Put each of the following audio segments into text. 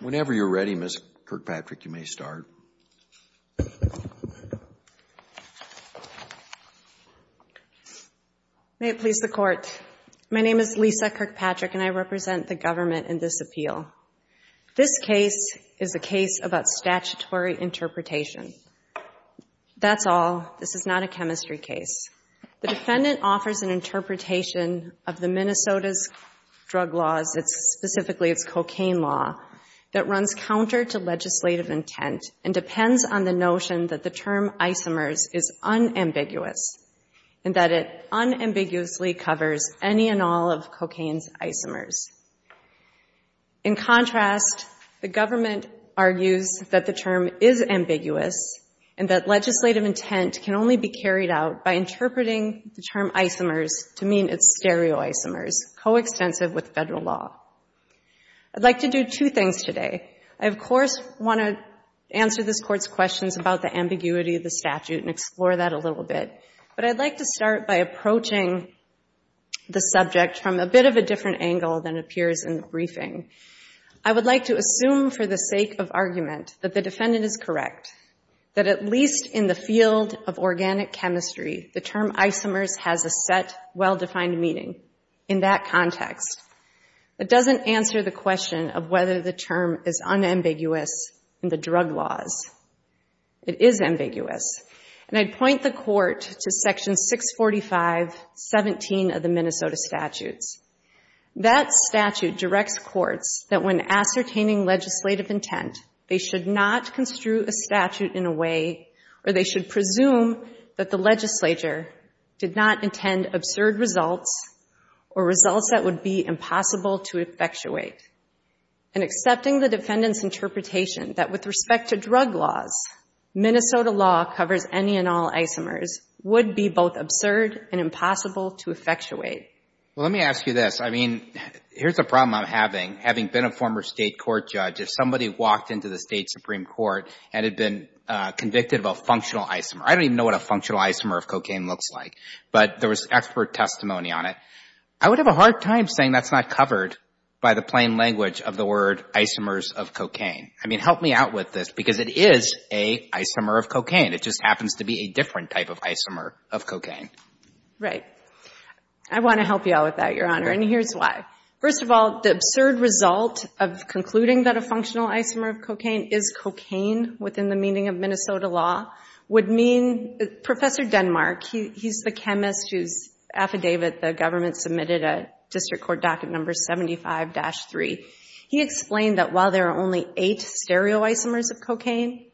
Whenever you're ready, Ms. Kirkpatrick, you may start. May it please the Court. My name is Lisa Kirkpatrick, and I represent the government in this appeal. This case is a case about statutory interpretation. That's all. This is not a chemistry case. The defendant offers an interpretation of the Minnesota's drug laws, specifically its cocaine law, that runs counter to legislative intent and depends on the notion that the term isomers is unambiguous and that it unambiguously covers any and all of cocaine's isomers. In contrast, the government argues that the term is ambiguous and that legislative intent can only be carried out by interpreting the term isomers to mean its stereoisomers, coextensive with federal law. I'd like to do two things today. I, of course, want to answer this Court's questions about the ambiguity of the statute and explore that a little bit. But I'd like to start by approaching the subject from a bit of a different angle than appears in the briefing. I would like to assume for the sake of argument that the defendant is correct, that at least in the field of organic chemistry, the term isomers has a set, well-defined meaning in that context. That doesn't answer the question of whether the term is unambiguous in the drug laws. It is ambiguous. And I'd point the Court to Section 645.17 of the Minnesota Statutes. That statute directs courts that when ascertaining legislative intent, they should not construe a statute in a way where they should presume that the legislature did not intend absurd results or results that would be impossible to effectuate. In accepting the defendant's interpretation that with respect to drug laws, Minnesota law covers any and all isomers would be both absurd and impossible to effectuate. Well, let me ask you this. I mean, here's a problem I'm having. Having been a former State court judge, if somebody walked into the State Supreme Court and had been convicted of a functional isomer, I don't even know what a functional isomer of cocaine looks like, but there was expert testimony on it, I would have a hard time saying that's not covered by the plain language of the word isomers of cocaine. I mean, help me out with this, because it is an isomer of cocaine. It just happens to be a different type of isomer of cocaine. Right. I want to help you out with that, Your Honor, and here's why. First of all, the absurd result of concluding that a functional isomer of cocaine is cocaine within the meaning of Minnesota law would mean Professor Denmark, he's the chemist whose affidavit the government submitted at District Court Docket No. 75-3. He explained that while there are only eight stereo isomers of cocaine,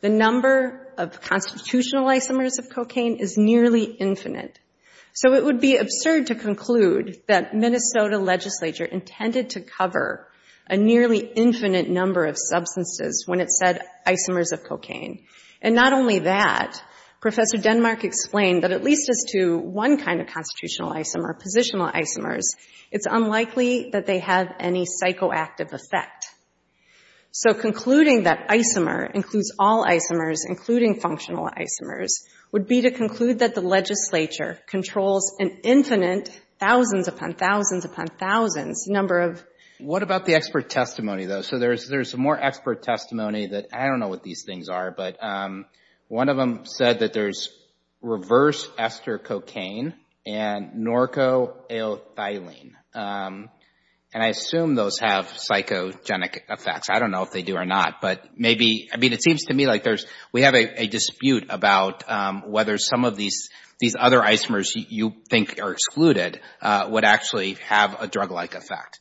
the number of constitutional isomers of cocaine is nearly infinite. So it would be absurd to conclude that Minnesota legislature intended to cover a nearly infinite number of substances when it said isomers of cocaine. And not only that, Professor Denmark explained that at least as to one kind of constitutional isomer, positional isomers, it's unlikely that they have any psychoactive effect. So concluding that isomer includes all isomers, including functional isomers, would be to conclude that the legislature controls an infinite thousands upon thousands upon thousands number of. What about the expert testimony, though? So there's more expert testimony that I don't know what these things are, but one of them said that there's reverse ester cocaine and norco-alethylene, and I assume those have psychogenic effects. I don't know if they do or not, but maybe. I mean, it seems to me like we have a dispute about whether some of these other isomers you think are excluded would actually have a drug-like effect.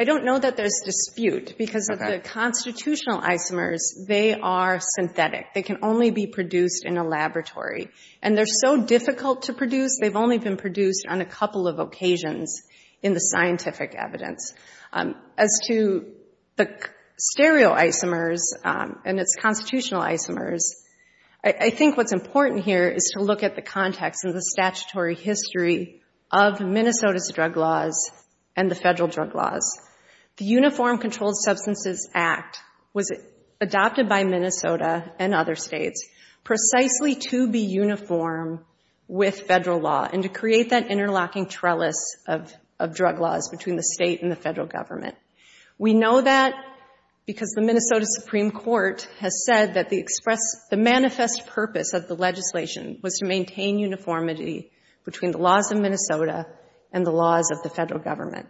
I don't know that there's dispute because of the constitutional isomers, they are synthetic. They can only be produced in a laboratory. And they're so difficult to produce, they've only been produced on a couple of occasions in the scientific evidence. As to the stereo isomers and its constitutional isomers, I think what's important here is to look at the context and the statutory history of Minnesota's drug laws and the federal drug laws. The Uniform Controlled Substances Act was adopted by Minnesota and other states precisely to be uniform with federal law and to create that interlocking trellis of drug laws between the state and the federal government. We know that because the Minnesota Supreme Court has said that the manifest purpose of the legislation was to maintain uniformity between the laws of Minnesota and the laws of the federal government.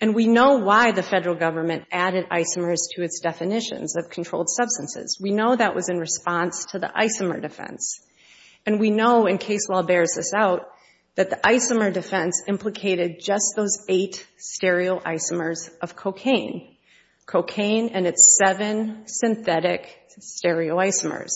And we know why the federal government added isomers to its definitions of controlled substances. We know that was in response to the isomer defense. And we know, in case law bears this out, that the isomer defense implicated just those eight stereo isomers of cocaine. Cocaine and its seven synthetic stereo isomers.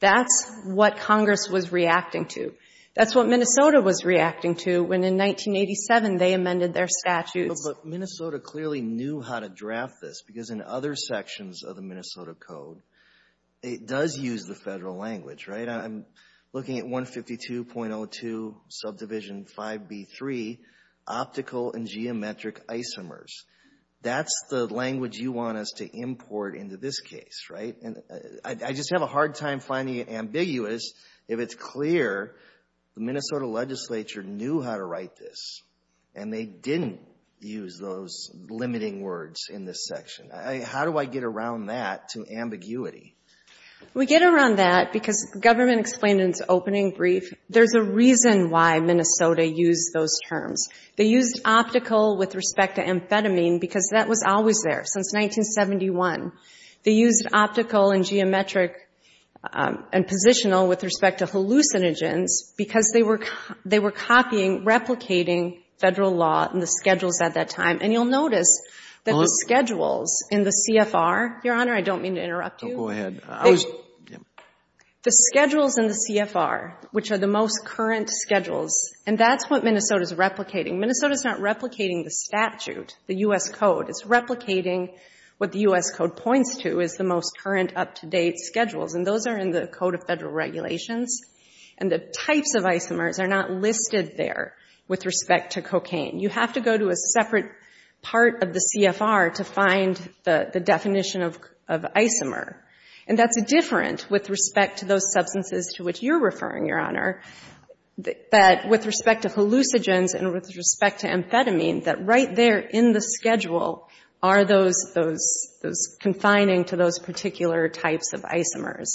That's what Congress was reacting to. That's what Minnesota was reacting to when, in 1987, they amended their statutes. But Minnesota clearly knew how to draft this, because in other sections of the Minnesota Code, it does use the federal language, right? I'm looking at 152.02 subdivision 5B3, optical and geometric isomers. That's the language you want us to import into this case, right? And I just have a hard time finding it ambiguous if it's clear the Minnesota legislature knew how to write this, and they didn't use those limiting words in this section. How do I get around that to ambiguity? We get around that because government explained in its opening brief, there's a reason why Minnesota used those terms. They used optical with respect to amphetamine, because that was always there since 1971. They used optical and geometric and positional with respect to hallucinogens because they were copying, replicating federal law and the schedules at that time. And you'll notice that the schedules in the CFR, Your Honor, I don't mean to interrupt you. Go ahead. The schedules in the CFR, which are the most current schedules, and that's what Minnesota's replicating. Minnesota's not replicating the statute, the U.S. Code. It's replicating what the U.S. Code points to as the most current up-to-date schedules, and those are in the Code of Federal Regulations. And the types of isomers are not listed there with respect to cocaine. You have to go to a separate part of the CFR to find the definition of isomer, and that's different with respect to those substances to which you're referring, Your Honor, but with respect to hallucinogens and with respect to amphetamine, that right there in the schedule are those confining to those particular types of isomers.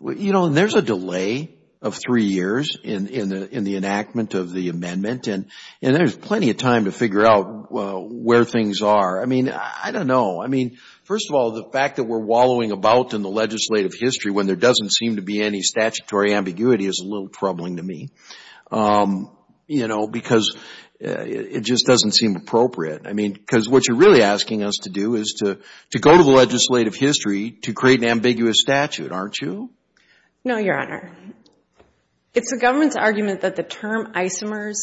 You know, there's a delay of three years in the enactment of the amendment, and there's plenty of time to figure out where things are. I mean, I don't know. I mean, first of all, the fact that we're wallowing about in the legislative history when there doesn't seem to be any statutory ambiguity is a little troubling to me, you know, because it just doesn't seem appropriate. I mean, because what you're really asking us to do is to go to the legislative history to create an ambiguous statute, aren't you? No, Your Honor. It's the government's argument that the term isomers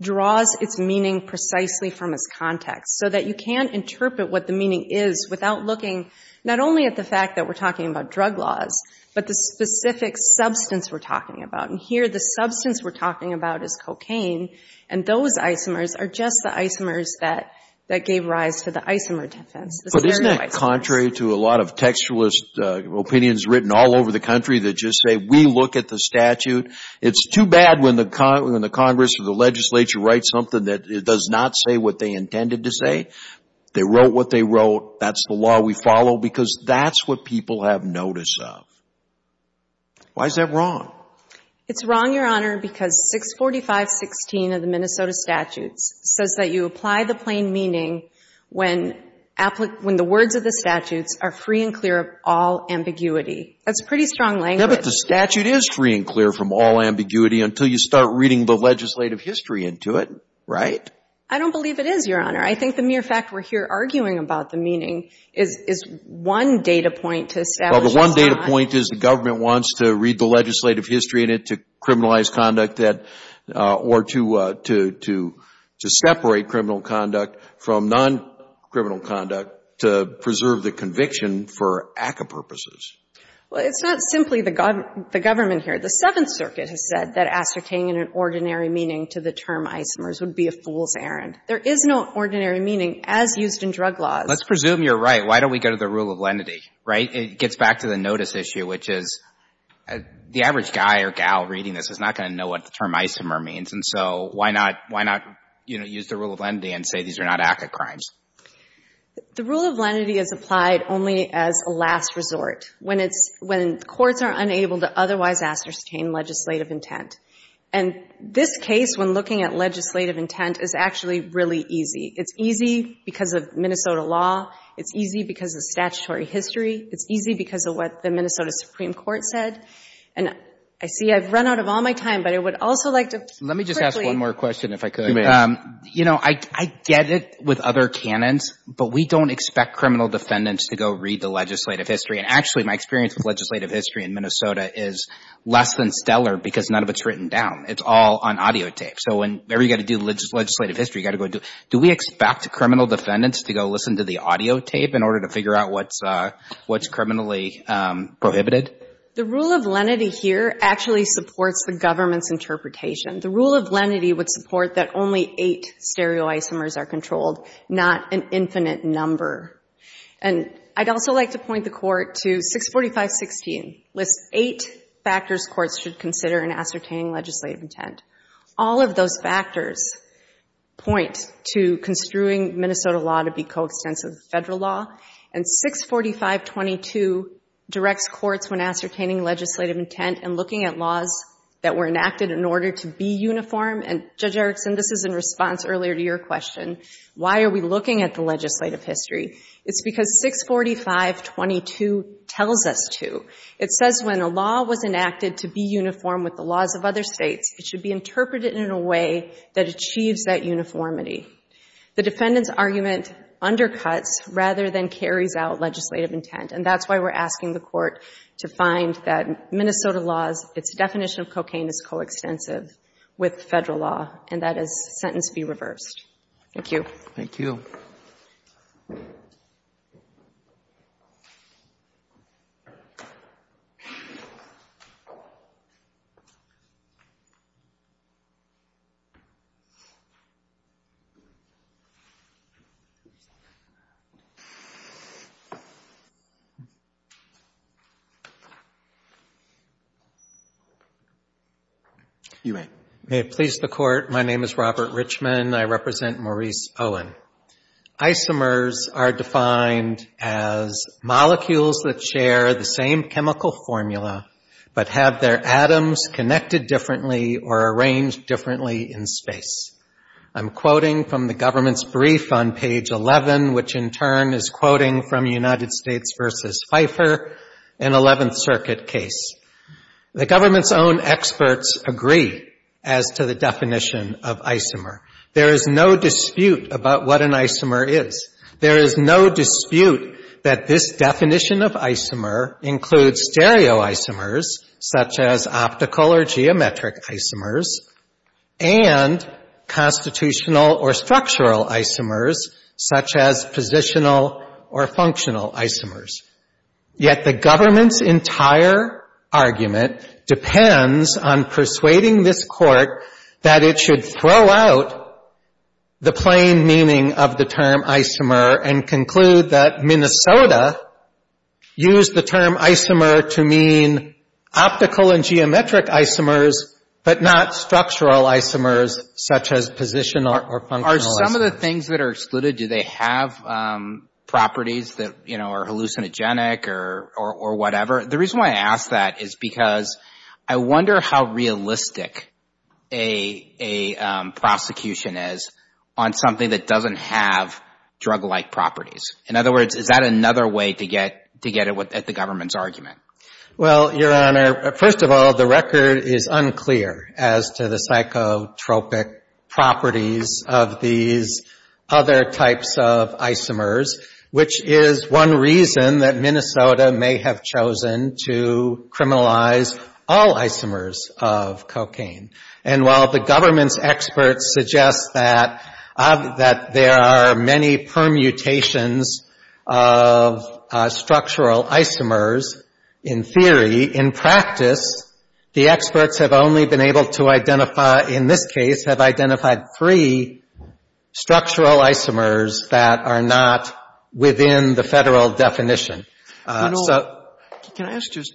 draws its meaning precisely from its context so that you can interpret what the meaning is without looking not only at the fact that we're talking about drug laws but the specific substance we're talking about. And here the substance we're talking about is cocaine, and those isomers are just the isomers that gave rise to the isomer defense. But isn't that contrary to a lot of textualist opinions written all over the country that just say we look at the statute? It's too bad when the Congress or the legislature writes something that it does not say what they intended to say. They wrote what they wrote. That's the law we follow because that's what people have notice of. Why is that wrong? It's wrong, Your Honor, because 645.16 of the Minnesota statutes says that you apply the plain meaning when the words of the statutes are free and clear of all ambiguity. That's pretty strong language. Yeah, but the statute is free and clear from all ambiguity until you start reading the legislative history into it, right? I don't believe it is, Your Honor. I think the mere fact we're here arguing about the meaning is one data point to establish it's not. Well, the one data point is the government wants to read the legislative history in it to criminalize conduct or to separate criminal conduct from non-criminal conduct to preserve the conviction for ACCA purposes. Well, it's not simply the government here. The Seventh Circuit has said that ascertaining an ordinary meaning to the term isomers would be a fool's errand. There is no ordinary meaning as used in drug laws. Let's presume you're right. Why don't we go to the rule of lenity, right? It gets back to the notice issue, which is the average guy or gal reading this is not going to know what the term isomer means. And so why not use the rule of lenity and say these are not ACCA crimes? The rule of lenity is applied only as a last resort when courts are unable to otherwise ascertain legislative intent. And this case, when looking at legislative intent, is actually really easy. It's easy because of Minnesota law. It's easy because of statutory history. It's easy because of what the Minnesota Supreme Court said. And I see I've run out of all my time, but I would also like to quickly— Let me just ask one more question, if I could. You may. You know, I get it with other canons, but we don't expect criminal defendants to go read the legislative history. And actually, my experience with legislative history in Minnesota is less than stellar because none of it's written down. It's all on audio tape. So whenever you've got to do legislative history, you've got to go do it. Do we expect criminal defendants to go listen to the audio tape in order to figure out what's criminally prohibited? The rule of lenity here actually supports the government's interpretation. The rule of lenity would support that only eight stereoisomers are controlled, not an infinite number. And I'd also like to point the Court to 645.16, lists eight factors courts should consider in ascertaining legislative intent. All of those factors point to construing Minnesota law to be coextensive with federal law. And 645.22 directs courts when ascertaining legislative intent and looking at laws that were enacted in order to be uniform. And, Judge Erickson, this is in response earlier to your question, why are we looking at the legislative history? It's because 645.22 tells us to. It says when a law was enacted to be uniform with the laws of other states, it should be interpreted in a way that achieves that uniformity. The defendant's argument undercuts rather than carries out legislative intent. And that's why we're asking the Court to find that Minnesota laws, its definition of cocaine is coextensive with federal law. And that is sentence be reversed. Thank you. Thank you. You may. May it please the Court, my name is Robert Richmond. I represent Maurice Owen. Isomers are defined as molecules that share the same chemical formula but have their atoms connected differently or arranged differently in space. I'm quoting from the government's brief on page 11, which in turn is quoting from United States v. Pfeiffer, an 11th Circuit case. The government's own experts agree as to the definition of isomer. There is no dispute about what an isomer is. There is no dispute that this definition of isomer includes stereoisomers, such as optical or geometric isomers, and constitutional or structural isomers, such as positional or functional isomers. Yet the government's entire argument depends on persuading this Court that it should throw out the plain meaning of the term isomer and conclude that Minnesota used the term isomer to mean optical and geometric isomers, but not structural isomers, such as positional or functional isomers. Some of the things that are excluded, do they have properties that, you know, are hallucinogenic or whatever? The reason why I ask that is because I wonder how realistic a prosecution is on something that doesn't have drug-like properties. In other words, is that another way to get at the government's argument? Well, Your Honor, first of all, the record is unclear as to the psychotropic properties of these other types of isomers, which is one reason that Minnesota may have chosen to criminalize all isomers of cocaine. And while the government's experts suggest that there are many permutations of structural isomers in theory, in practice the experts have only been able to identify, in this case, have identified three structural isomers that are not within the Federal definition. You know, can I ask just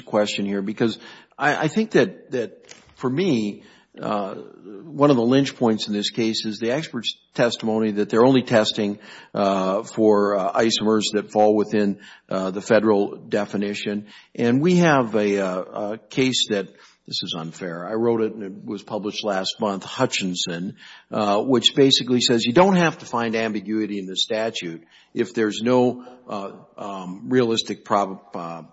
a question here? Because I think that, for me, one of the lynch points in this case is the experts' testimony that they're only testing for isomers that fall within the Federal definition. And we have a case that, this is unfair, I wrote it and it was published last month, Hutchinson, which basically says you don't have to find ambiguity in the statute if there's no realistic possibility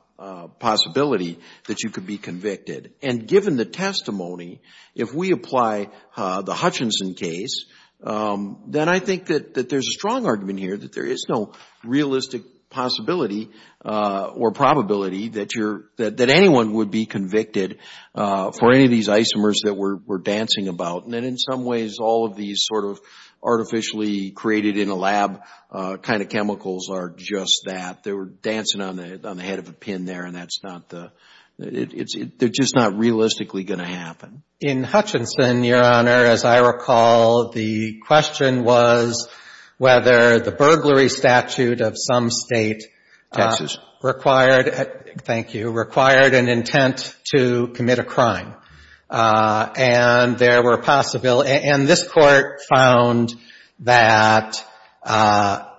that you could be convicted. And given the testimony, if we apply the Hutchinson case, then I think that there's a strong argument here that there is no realistic possibility or probability that anyone would be convicted for any of these isomers that we're dancing about. And in some ways, all of these sort of artificially created in a lab kind of chemicals are just that. They were dancing on the head of a pin there, and that's not the, they're just not realistically going to happen. In Hutchinson, Your Honor, as I recall, the question was whether the burglary statute of some state required, thank you, required an intent to commit a crime. And there were possible, and this Court found that,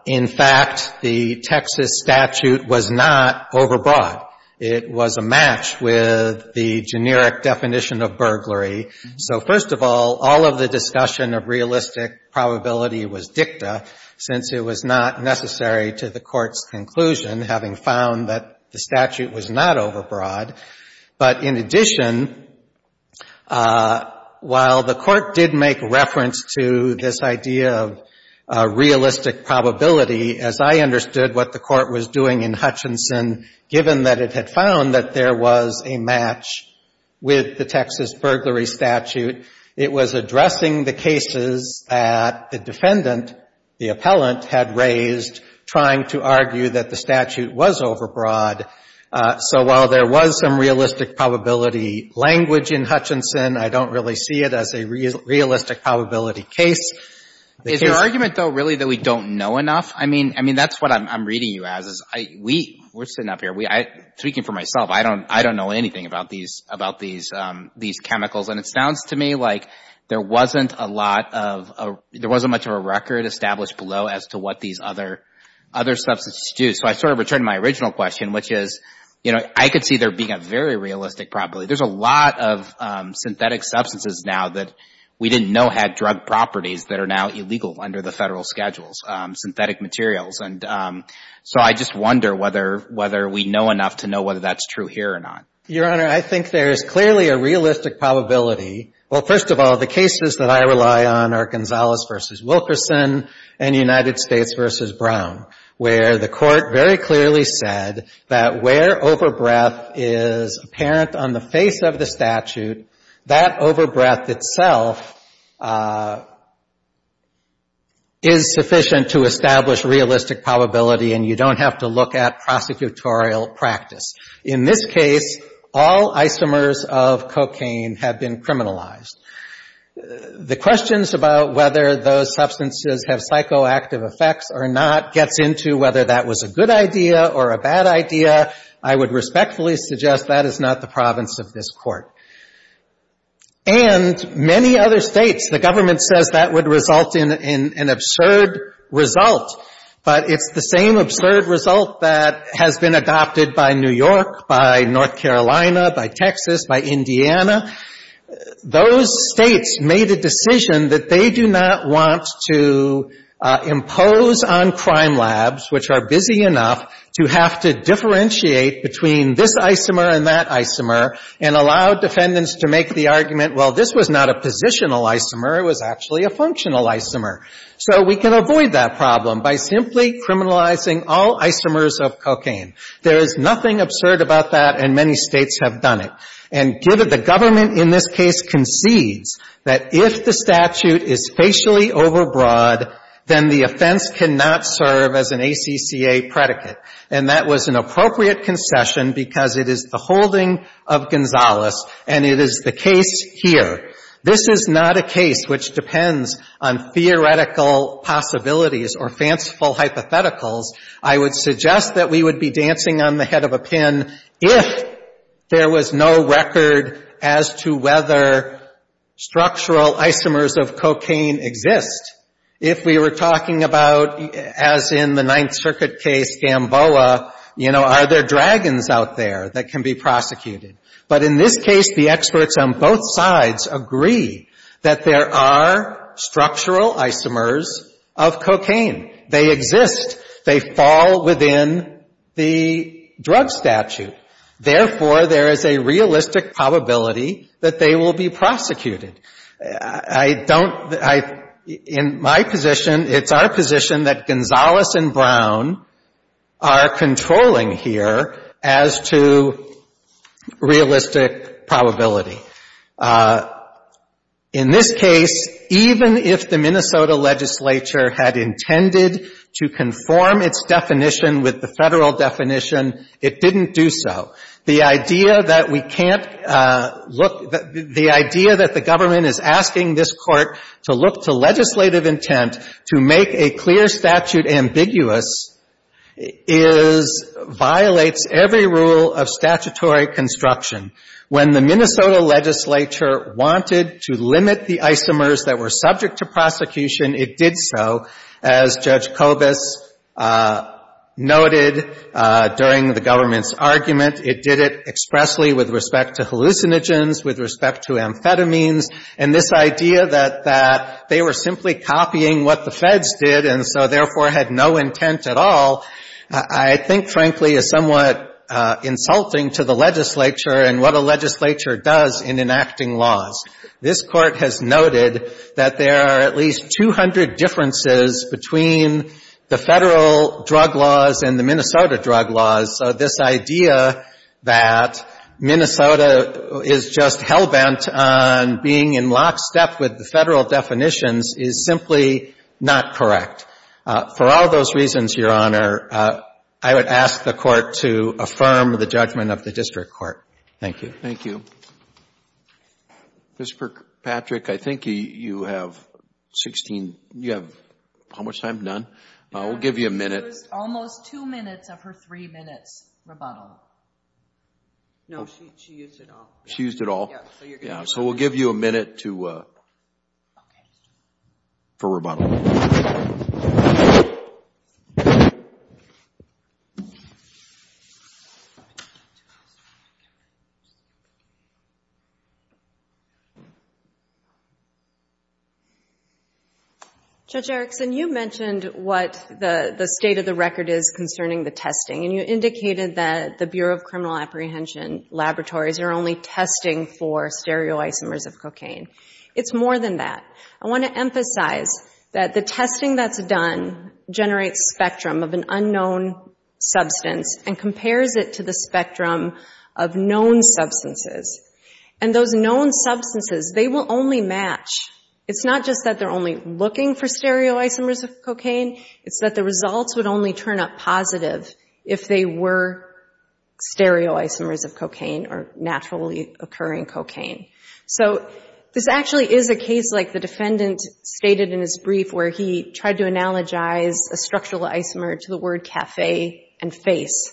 in fact, the Texas statute was not overbroad. It was a match with the generic definition of burglary. So, first of all, all of the discussion of realistic probability was dicta, since it was not necessary to the Court's conclusion, having found that the statute was not overbroad. But in addition, while the Court did make reference to this idea of realistic probability, as I understood what the Court was doing in Hutchinson, given that it had found that there was a match with the Texas burglary statute, it was addressing the cases that the defendant, the appellant, had raised, trying to argue that the statute was overbroad. So while there was some realistic probability language in Hutchinson, I don't really see it as a realistic probability case. Is your argument, though, really that we don't know enough? I mean, that's what I'm reading you as, is we're sitting up here, speaking for myself, I don't know anything about these chemicals. And it sounds to me like there wasn't a lot of, there wasn't much of a record established below as to what these other substances do. So I sort of return to my original question, which is, you know, I could see there being a very realistic probability. There's a lot of synthetic substances now that we didn't know had drug properties that are now illegal under the Federal schedules, synthetic materials. And so I just wonder whether we know enough to know whether that's true here or not. Your Honor, I think there is clearly a realistic probability. Well, first of all, the cases that I rely on are Gonzalez v. Wilkerson and United States v. Brown, where the Court very clearly said that where overbreath is apparent on the face of the statute, that overbreath itself is sufficient to establish realistic probability and you don't have to look at prosecutorial practice. In this case, all isomers of cocaine have been criminalized. The questions about whether those substances have psychoactive effects or not gets into whether that was a good idea or a bad idea. I would respectfully suggest that is not the province of this Court. And many other states, the government says that would result in an absurd result, but it's the same absurd result that has been adopted by New York, by North Carolina, by Texas, by Indiana. Those states made a decision that they do not want to impose on crime labs, which are busy enough, to have to differentiate between this isomer and that isomer and allow defendants to make the argument, well, this was not a positional isomer. It was actually a functional isomer. So we can avoid that problem by simply criminalizing all isomers of cocaine. There is nothing absurd about that, and many states have done it. And the government in this case concedes that if the statute is facially overbroad, then the offense cannot serve as an ACCA predicate. And that was an appropriate concession because it is the holding of Gonzales, and it is the case here. This is not a case which depends on theoretical possibilities or fanciful hypotheticals. I would suggest that we would be dancing on the head of a pin if there was no record as to whether structural isomers of cocaine exist. If we were talking about, as in the Ninth Circuit case, Gamboa, you know, are there dragons out there that can be prosecuted? But in this case, the experts on both sides agree that there are structural isomers of cocaine. They exist. They fall within the drug statute. Therefore, there is a realistic probability that they will be prosecuted. I don't — in my position, it's our position that Gonzales and Brown are controlling here as to realistic probability. In this case, even if the Minnesota legislature had intended to conform its definition with the Federal definition, it didn't do so. The idea that we can't look — the idea that the government is asking this Court to look to legislative intent to make a clear statute ambiguous is — violates every rule of statutory construction. When the Minnesota legislature wanted to limit the isomers that were subject to prosecution, it did so, as Judge Kobus noted during the government's argument. It did it expressly with respect to hallucinogens, with respect to amphetamines. And this idea that they were simply copying what the feds did and so, therefore, had no intent at all, I think, frankly, is somewhat insulting to the legislature and what a legislature does in enacting laws. This Court has noted that there are at least 200 differences between the Federal drug laws and the Minnesota drug laws. So this idea that Minnesota is just hell-bent on being in lockstep with the Federal definitions is simply not correct. For all those reasons, Your Honor, I would ask the Court to affirm the judgment of the District Court. Thank you. Thank you. Ms. Kirkpatrick, I think you have 16 — you have how much time? None? We'll give you a minute. She used almost two minutes of her three minutes rebuttal. No, she used it all. She used it all? Yes. So we'll give you a minute to — for rebuttal. Thank you. Judge Erickson, you mentioned what the state of the record is concerning the testing, and you indicated that the Bureau of Criminal Apprehension laboratories are only testing for stereoisomers of cocaine. It's more than that. I want to emphasize that the testing that's done generates spectrum of an unknown substance and compares it to the spectrum of known substances. And those known substances, they will only match. It's not just that they're only looking for stereoisomers of cocaine. It's that the results would only turn up positive if they were stereoisomers of cocaine or naturally occurring cocaine. So this actually is a case like the defendant stated in his brief where he tried to analogize a structural isomer to the word café and face.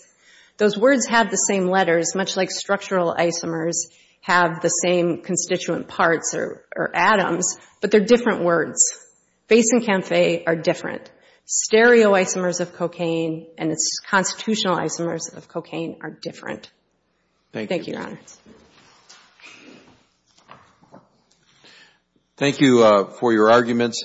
Those words have the same letters, much like structural isomers have the same constituent parts or atoms, but they're different words. Face and café are different. Stereoisomers of cocaine and its constitutional isomers of cocaine are different. Thank you. Your Honor. Thank you for your arguments.